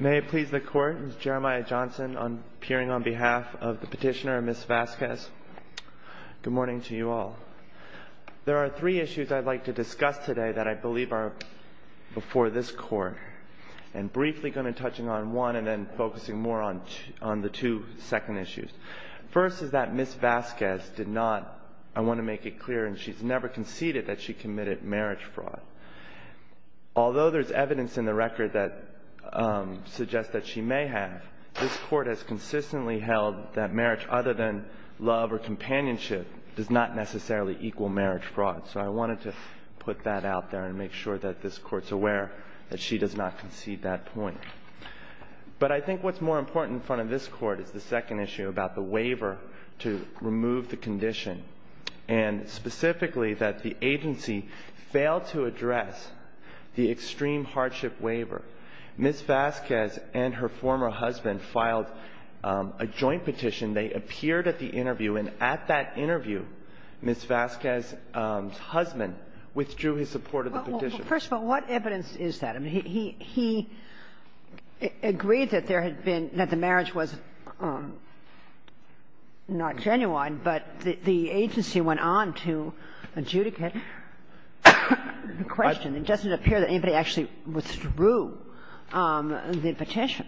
May it please the Court, this is Jeremiah Johnson appearing on behalf of the petitioner, Ms. Vasquez. Good morning to you all. There are three issues I'd like to discuss today that I believe are before this Court, and briefly going to touch on one and then focusing more on the two second issues. First is that Ms. Vasquez did not, I want to make it clear, and she's never conceded that she committed marriage fraud. Although there's evidence in the record that suggests that she may have, this Court has consistently held that marriage other than love or companionship does not necessarily equal marriage fraud. So I wanted to put that out there and make sure that this Court's aware that she does not concede that point. But I think what's more important in front of this Court is the second issue about the waiver to remove the condition, and specifically that the agency failed to address the extreme hardship waiver. Ms. Vasquez and her former husband filed a joint petition. They appeared at the interview, and at that interview, Ms. Vasquez's husband withdrew his support of the petition. First of all, what evidence is that? He agreed that there had been the marriage was not genuine, but the agency went on to adjudicate the question. It doesn't appear that anybody actually withdrew the petition.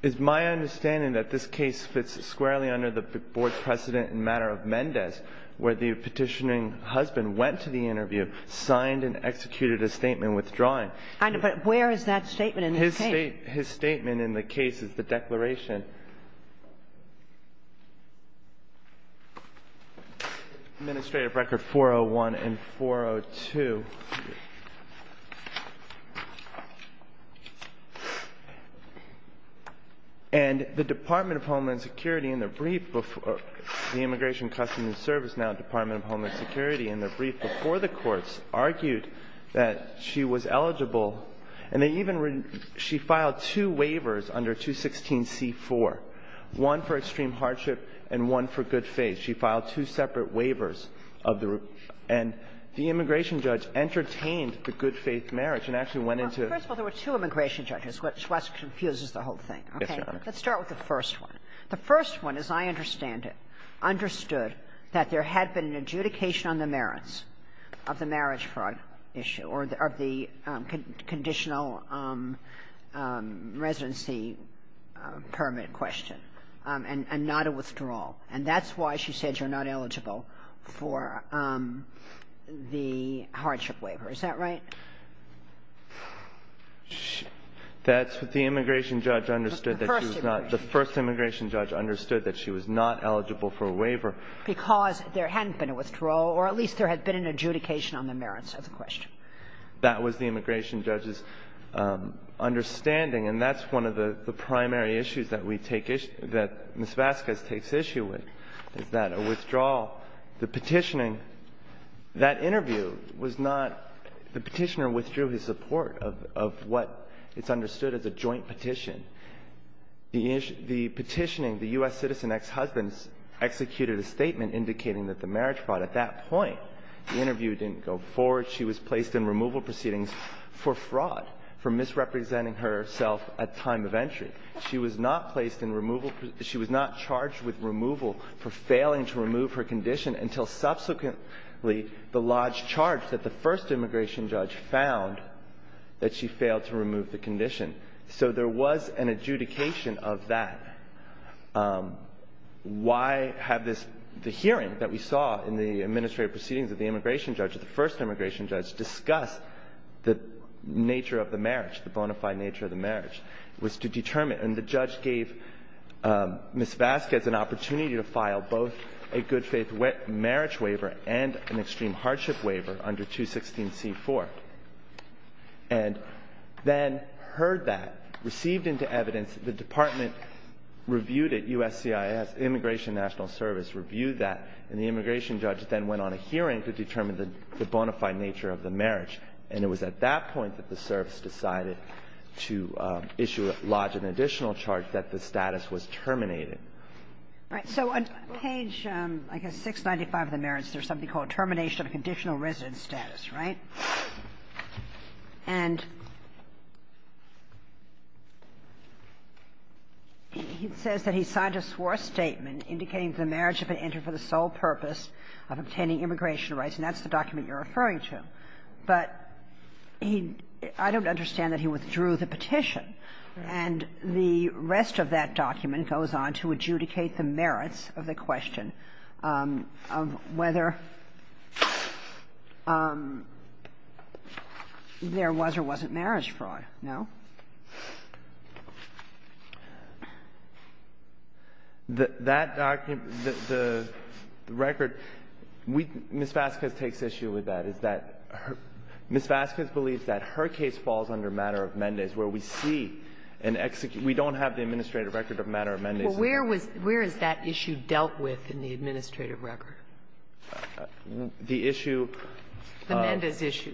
It's my understanding that this case fits squarely under the Board's precedent in the matter of Mendez, where the petitioning husband went to the interview, signed and executed a statement withdrawing. But where is that statement in the case? His statement in the case is the Declaration, Administrative Record 401 and 402. And the Department of Homeland Security in the brief before the Immigration, Customs and Service, now Department of Homeland Security, in the brief before the courts argued that she was eligible, and they even ---- she filed two waivers under 216c4, one for extreme hardship and one for good faith. She filed two separate waivers of the ---- and the immigration judge entertained the good faith marriage and actually went into the ---- Kagan. First of all, there were two immigration judges, which confuses the whole thing. Yes, Your Honor. Okay. Let's start with the first one. The first one, as I understand it, understood that there had been an adjudication on the merits of the marriage fraud issue or of the conditional residency permit question and not a withdrawal. And that's why she said you're not eligible for the hardship waiver. Is that right? That's what the immigration judge understood that she was not ---- The first immigration judge. The first immigration judge understood that she was not eligible for a waiver. Because there hadn't been a withdrawal, or at least there had been an adjudication on the merits of the question. That was the immigration judge's understanding. And that's one of the primary issues that we take issue ---- that Ms. Vasquez takes issue with, is that a withdrawal, the petitioning, that interview was not ---- the petition or withdrew his support of what is understood as a joint petition. The petitioning, the U.S. citizen ex-husbands executed a statement indicating that the marriage fraud at that point, the interview didn't go forward. She was placed in removal proceedings for fraud, for misrepresenting herself at time of entry. She was not placed in removal ---- she was not charged with removal for failing to remove her condition until subsequently the large charge that the first immigration judge found that she failed to remove the condition. So there was an adjudication of that. Why have this ---- the hearing that we saw in the administrative proceedings of the immigration judge, the first immigration judge, discuss the nature of the marriage, the bona fide nature of the marriage, was to determine. And the judge gave Ms. Vasquez an opportunity to file both a good-faith marriage waiver and an extreme hardship waiver under 216c4, and then heard that, received into evidence, the department reviewed it, USCIS, Immigration National Service, reviewed that, and the immigration judge then went on a hearing to determine the bona fide nature of the marriage. And it was at that point that the service decided to issue a large and additional charge that the status was terminated. Right. So on page, I guess, 695 of the merits, there's something called termination of conditional residence status, right? And it says that he signed a swore statement indicating that the marriage had been entered for the sole purpose of obtaining immigration rights, and that's the document you're referring to. But he ---- I don't understand that he withdrew the petition. And the rest of that document goes on to adjudicate the merits of the question of whether there was or wasn't marriage fraud, no? That document, the record, we ---- Ms. Vasquez takes issue with that, is that Ms. Vasquez believes that her case falls under a matter of Mendes, where we see an execution ---- we don't have the administrative record of a matter of Mendes. Well, where is that issue dealt with in the administrative record? The issue of ---- The Mendes issue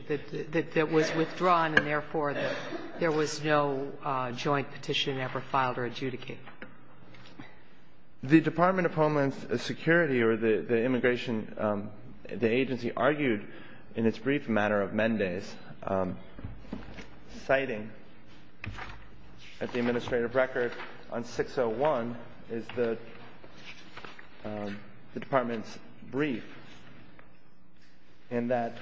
that was withdrawn and, therefore, there was no joint petition ever filed or adjudicated. The Department of Homeland Security or the immigration agency argued in its brief that it was a matter of Mendes, citing that the administrative record on 601 is the Department's brief, and that ----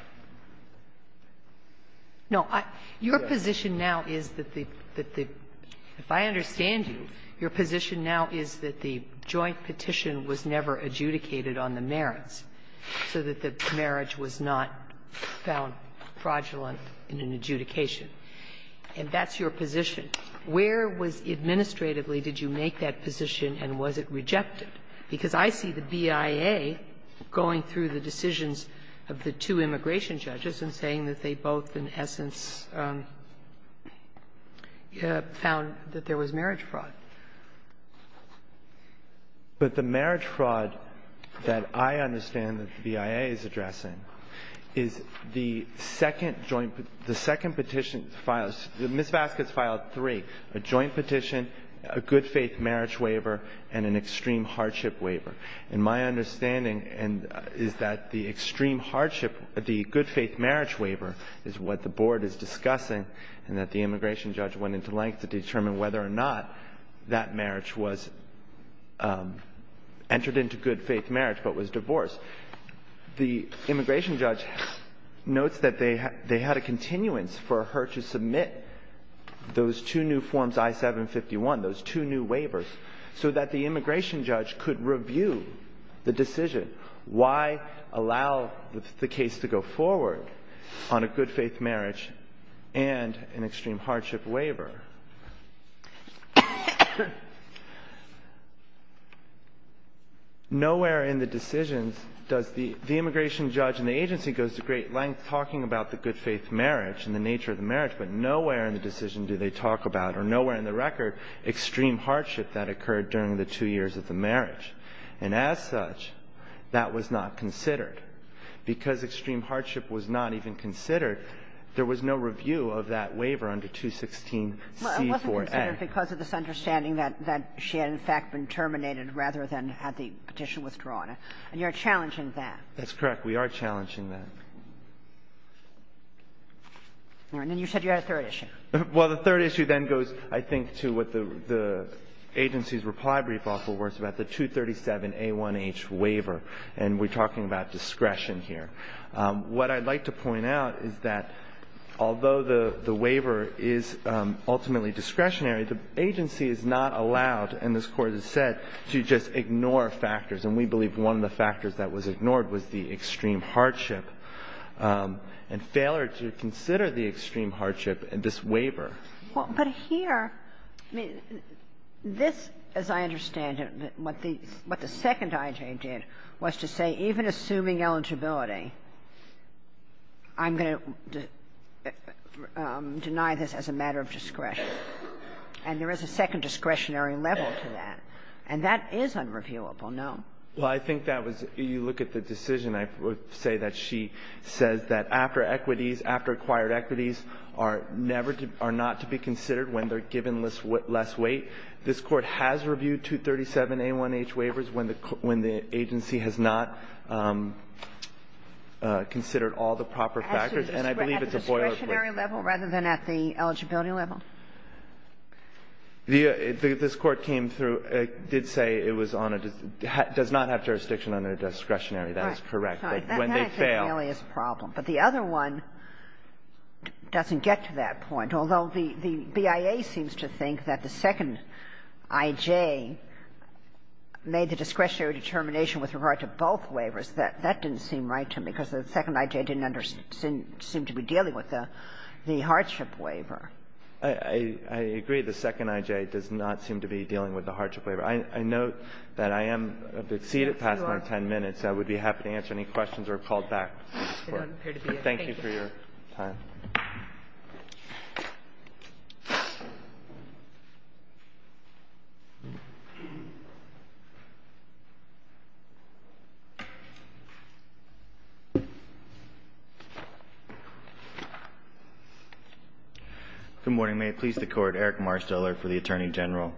No. Your position now is that the ---- if I understand you, your position now is that the joint petition was never adjudicated on the merits so that the marriage was not found fraudulent in an adjudication. And that's your position. Where was administratively did you make that position and was it rejected? Because I see the BIA going through the decisions of the two immigration judges and saying that they both, in essence, found that there was marriage fraud. But the marriage fraud that I understand that the BIA is addressing is the second joint ---- the second petition filed ---- Ms. Vasquez filed three, a joint petition, a good-faith marriage waiver, and an extreme hardship waiver. And my understanding is that the extreme hardship, the good-faith marriage waiver is what the Board is discussing and that the immigration judge went into length to determine whether or not that marriage was entered into good-faith marriage but was divorced. The immigration judge notes that they had a continuance for her to submit those two new forms, I-751, those two new waivers, so that the immigration judge could review the decision. Why allow the case to go forward on a good-faith marriage and an extreme hardship waiver? Nowhere in the decisions does the ---- the immigration judge and the agency goes to great length talking about the good-faith marriage and the nature of the marriage, but nowhere in the decision do they talk about, or nowhere in the record, extreme hardship that occurred during the two years of the marriage. And as such, that was not considered. Because extreme hardship was not even considered, there was no review of that waiver under 216C4A. Kagan. Well, it wasn't considered because of this understanding that she had, in fact, been terminated rather than had the petition withdrawn. And you're challenging that. That's correct. We are challenging that. All right. And then you said you had a third issue. Well, the third issue then goes, I think, to what the agency's reply brief offer was about, the 237A1H waiver. And we're talking about discretion here. What I'd like to point out is that although the waiver is ultimately discretionary, the agency is not allowed, and this Court has said, to just ignore factors. And we believe one of the factors that was ignored was the extreme hardship and failure to consider the extreme hardship in this waiver. Well, but here, I mean, this, as I understand it, what the second IG did was to say, even assuming eligibility, I'm going to deny this as a matter of discretion. And there is a second discretionary level to that. And that is unreviewable, no. Well, I think that was you look at the decision. I would say that she says that after equities, after acquired equities are never to be considered when they're given less weight. This Court has reviewed 237A1H waivers when the agency has not considered all the proper factors. And I believe it's a boilerplate. At the discretionary level rather than at the eligibility level? This Court came through. It did say it was on a – does not have jurisdiction under discretionary. That is correct. When they fail. That's an alias problem. But the other one doesn't get to that point. Although the BIA seems to think that the second I.J. made the discretionary determination with regard to both waivers, that didn't seem right to me because the second I.J. didn't seem to be dealing with the hardship waiver. I agree the second I.J. does not seem to be dealing with the hardship waiver. I note that I am a bit seated past my 10 minutes. I would be happy to answer any questions or call back. Thank you for your time. Good morning. May it please the Court. Eric Marsteller for the Attorney General.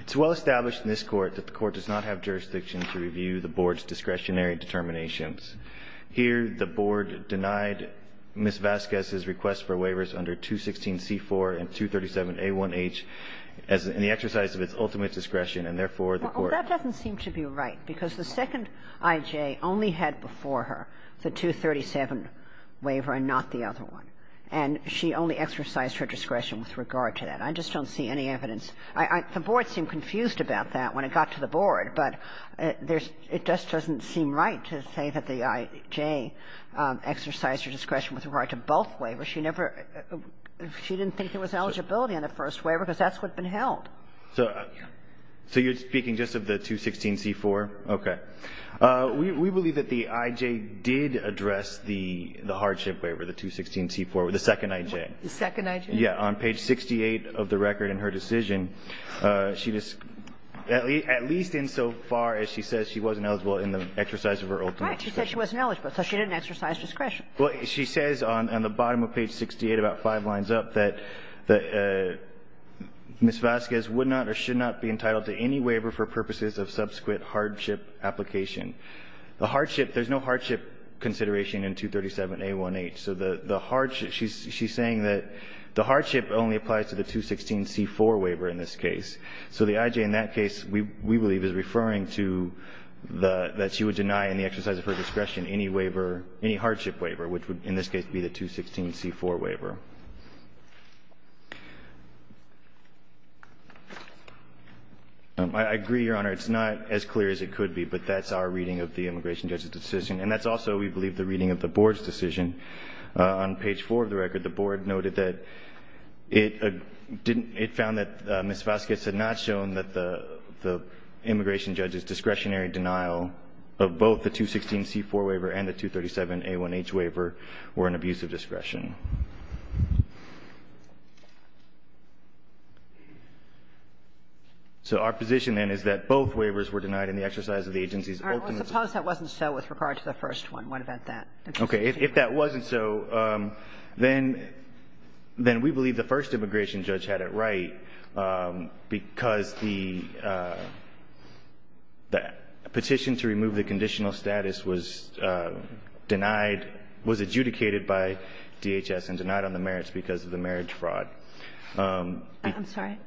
It's well established in this Court that the Court does not have jurisdiction to review the Board's discretionary determinations. Here, the Board denied Ms. Vasquez's request for waivers under 216c4 and 237a1h as the exercise of its ultimate discretion, and therefore, the Court – Well, that doesn't seem to be right because the second I.J. only had before her the 237 waiver and not the other one. And she only exercised her discretion with regard to that. I just don't see any evidence. The Board seemed confused about that when it got to the Board. But it just doesn't seem right to say that the I.J. exercised her discretion with regard to both waivers. She never – she didn't think there was eligibility on the first waiver because that's what's been held. So you're speaking just of the 216c4? Okay. We believe that the I.J. did address the hardship waiver, the 216c4, the second I.J. The second I.J.? Yeah. On page 68 of the record in her decision, she – at least insofar as she says she wasn't eligible in the exercise of her ultimate discretion. Right. She said she wasn't eligible, so she didn't exercise discretion. Well, she says on the bottom of page 68, about five lines up, that Ms. Vasquez would not or should not be entitled to any waiver for purposes of subsequent hardship application. The hardship – there's no hardship consideration in 237a1h. So the hardship – she's saying that the hardship only applies to the 216c4 waiver in this case. So the I.J. in that case, we believe, is referring to the – that she would deny in the exercise of her discretion any waiver – any hardship waiver, which would in this case be the 216c4 waiver. I agree, Your Honor. It's not as clear as it could be, but that's our reading of the immigration judge's decision. And that's also, we believe, the reading of the Board's decision. On page 4 of the record, the Board noted that it didn't – it found that Ms. Vasquez had not shown that the immigration judge's discretionary denial of both the 216c4 waiver and the 237a1h waiver were an abuse of discretion. So our position, then, is that both waivers were denied in the exercise of the agency's ultimate discretion. What about that? Okay. If that wasn't so, then we believe the first immigration judge had it right because the petition to remove the conditional status was denied – was adjudicated by DHS and denied on the merits because of the marriage fraud. I'm sorry?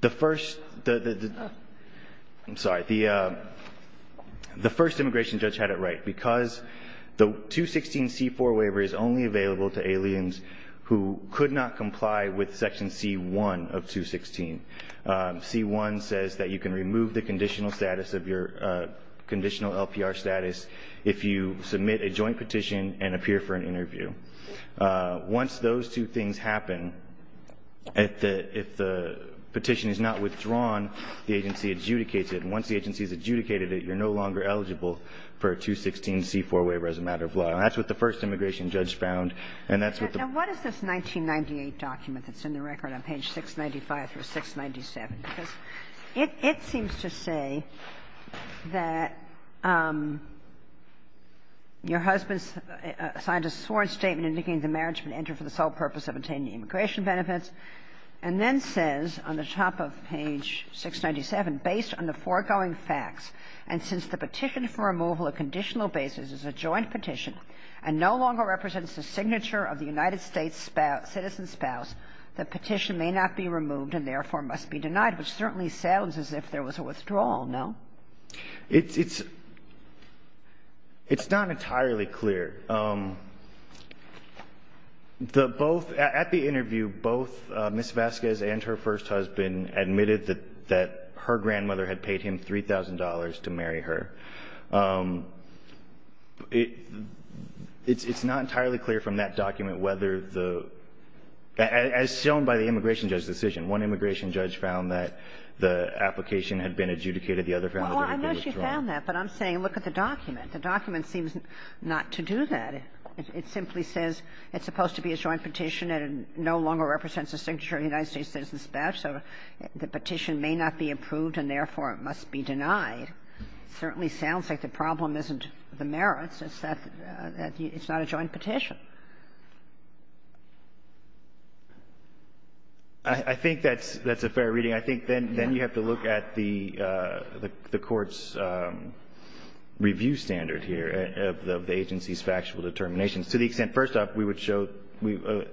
The first – I'm sorry. The first immigration judge had it right because the 216c4 waiver is only available to aliens who could not comply with Section C-1 of 216. C-1 says that you can remove the conditional status of your – conditional LPR status if you submit a joint petition and appear for an interview. Once those two things happen, if the – if the petition is not withdrawn, the agency adjudicates it. And once the agency has adjudicated it, you're no longer eligible for a 216c4 waiver as a matter of law. And that's what the first immigration judge found, and that's what the – Now, what is this 1998 document that's in the record on page 695 through 697? Because it seems to say that your husband signed a sworn statement indicating the marriage would enter for the sole purpose of obtaining immigration benefits and then says on the top of page 697, based on the foregoing facts, and since the petition for removal of conditional basis is a joint petition and no longer represents a signature of the United States citizen spouse, the petition may not be removed and therefore must be denied, which certainly sounds as if there was a withdrawal, no? It's not entirely clear. The both – at the interview, both Ms. Vasquez and her first husband admitted that her grandmother had paid him $3,000 to marry her. It's not entirely clear from that document whether the – as shown by the immigration judge's decision, one immigration judge found that the application had been adjudicated, the other found that there was a withdrawal. Well, I know she found that, but I'm saying look at the document. The document seems not to do that. It simply says it's supposed to be a joint petition and no longer represents a signature of the United States citizen spouse, so the petition may not be approved and therefore it must be denied. It certainly sounds like the problem isn't the merits. It's that it's not a joint petition. I think that's a fair reading. I think then you have to look at the Court's review standard here of the agency's factual determinations, to the extent, first off, we would show,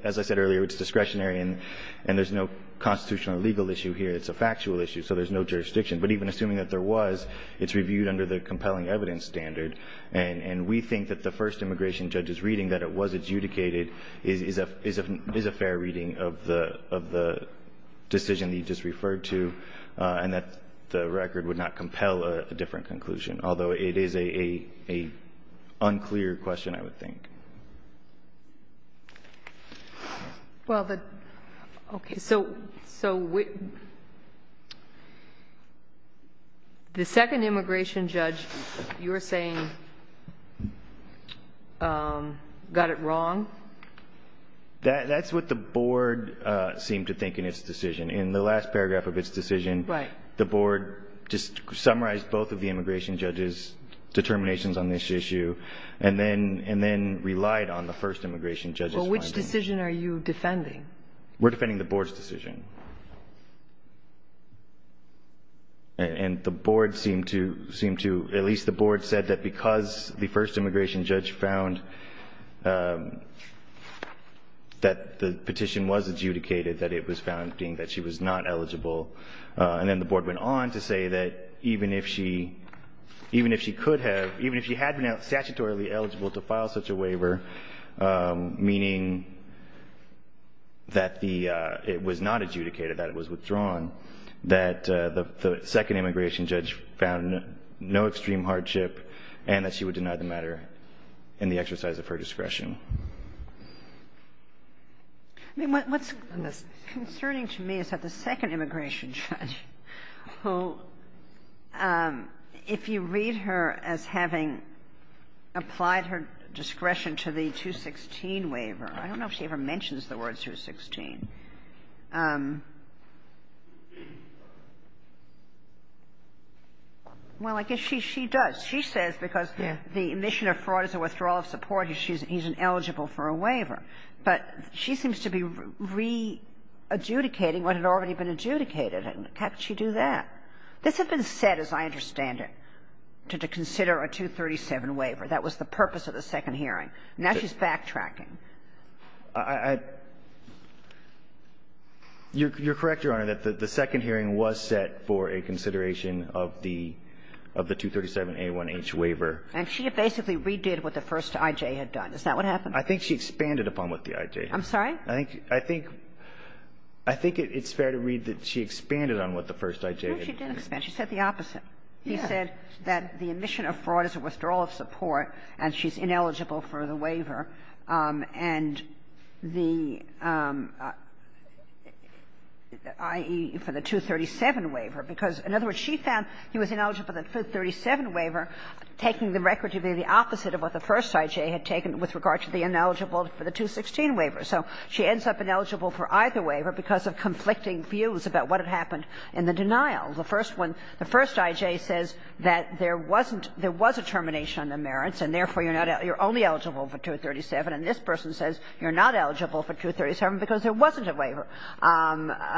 as I said earlier, it's discretionary and there's no constitutional or legal issue here. It's a factual issue. So there's no jurisdiction. But even assuming that there was, it's reviewed under the compelling evidence standard, and we think that the first immigration judge's reading that it was adjudicated is a fair reading of the decision that you just referred to and that the record would not compel a different conclusion, although it is an unclear question, I would think. Well, okay. So the second immigration judge, you're saying, got it wrong? That's what the Board seemed to think in its decision. In the last paragraph of its decision, the Board just summarized both of the immigration judges' determinations on this issue, and then referred to it as an adjudication that relied on the first immigration judge's findings. But which decision are you defending? We're defending the Board's decision. And the Board seemed to, seemed to, at least the Board said that because the first immigration judge found that the petition was adjudicated, that it was found, being that she was not eligible. And then the Board went on to say that even if she, even if she could have, even if she had been statutorily eligible to file such a waiver, meaning that the, it was not adjudicated, that it was withdrawn, that the second immigration judge found no extreme hardship and that she would deny the matter in the exercise of her discretion. I mean, what's concerning to me is that the second immigration judge, who, if you read her as having applied her discretion to the 216 waiver, I don't know if she ever mentions the word 216. Well, I guess she, she does. She says because the admission of fraud is a withdrawal of support, he's, he's ineligible for a waiver. But she seems to be re-adjudicating what had already been adjudicated. How did she do that? This had been set, as I understand it, to consider a 237 waiver. That was the purpose of the second hearing. Now she's backtracking. I, I, you're, you're correct, Your Honor, that the second hearing was set for a consideration of the, of the 237A1H waiver. And she basically redid what the first IJ had done. Is that what happened? I think she expanded upon what the IJ had done. I'm sorry? I think, I think, I think it's fair to read that she expanded on what the first IJ had done. No, she didn't expand. She said the opposite. He said that the admission of fraud is a withdrawal of support and she's ineligible for the waiver and the, i.e., for the 237 waiver, because, in other words, she found he was ineligible for the 237 waiver, taking the record to be the opposite of what the first IJ had taken with regard to the ineligible for the 216 waiver. So she ends up ineligible for either waiver because of conflicting views about what happened in the denial. The first one, the first IJ says that there wasn't, there was a termination on the merits and, therefore, you're not, you're only eligible for 237. And this person says you're not eligible for 237 because there wasn't a waiver.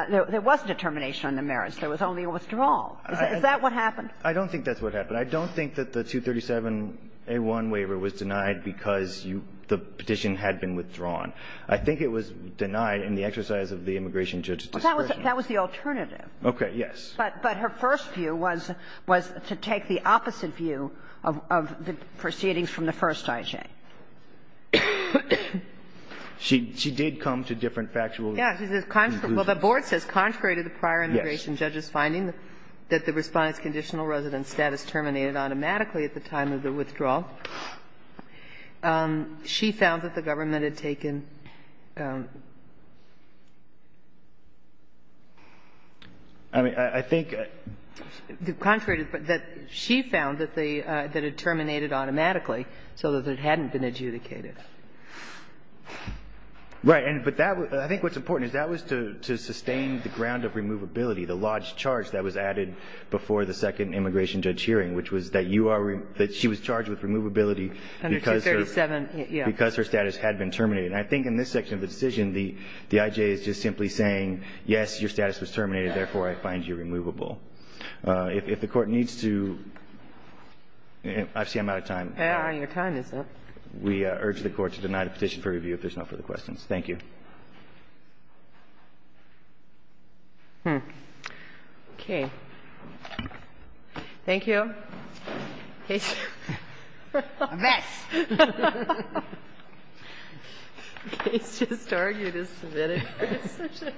There wasn't a termination on the merits. There was only a withdrawal. Is that what happened? I don't think that's what happened. I don't think that the 237A1 waiver was denied because you, the petition had been withdrawn. I think it was denied in the exercise of the immigration judge's discretion. That was the alternative. Okay. Yes. But her first view was to take the opposite view of the proceedings from the first IJ. She did come to different factual conclusions. Yes. She says, well, the board says, contrary to the prior immigration judge's finding that the Respondent's conditional resident status terminated automatically at the time of the withdrawal. She found that the government had taken the contrary, that she found that it terminated automatically so that it hadn't been adjudicated. Right. But I think what's important is that was to sustain the ground of removability, the large charge that was added before the second immigration judge hearing, which was that she was charged with removability because her status had been terminated. And I think in this section of the decision, the IJ is just simply saying, yes, your status was terminated, therefore, I find you removable. If the Court needs to, I see I'm out of time. Your time is up. We urge the Court to deny the petition for review if there's no further questions. Thank you. Okay. Thank you. Kevin? Yes. He's just arguing his submitting resolution. That's it.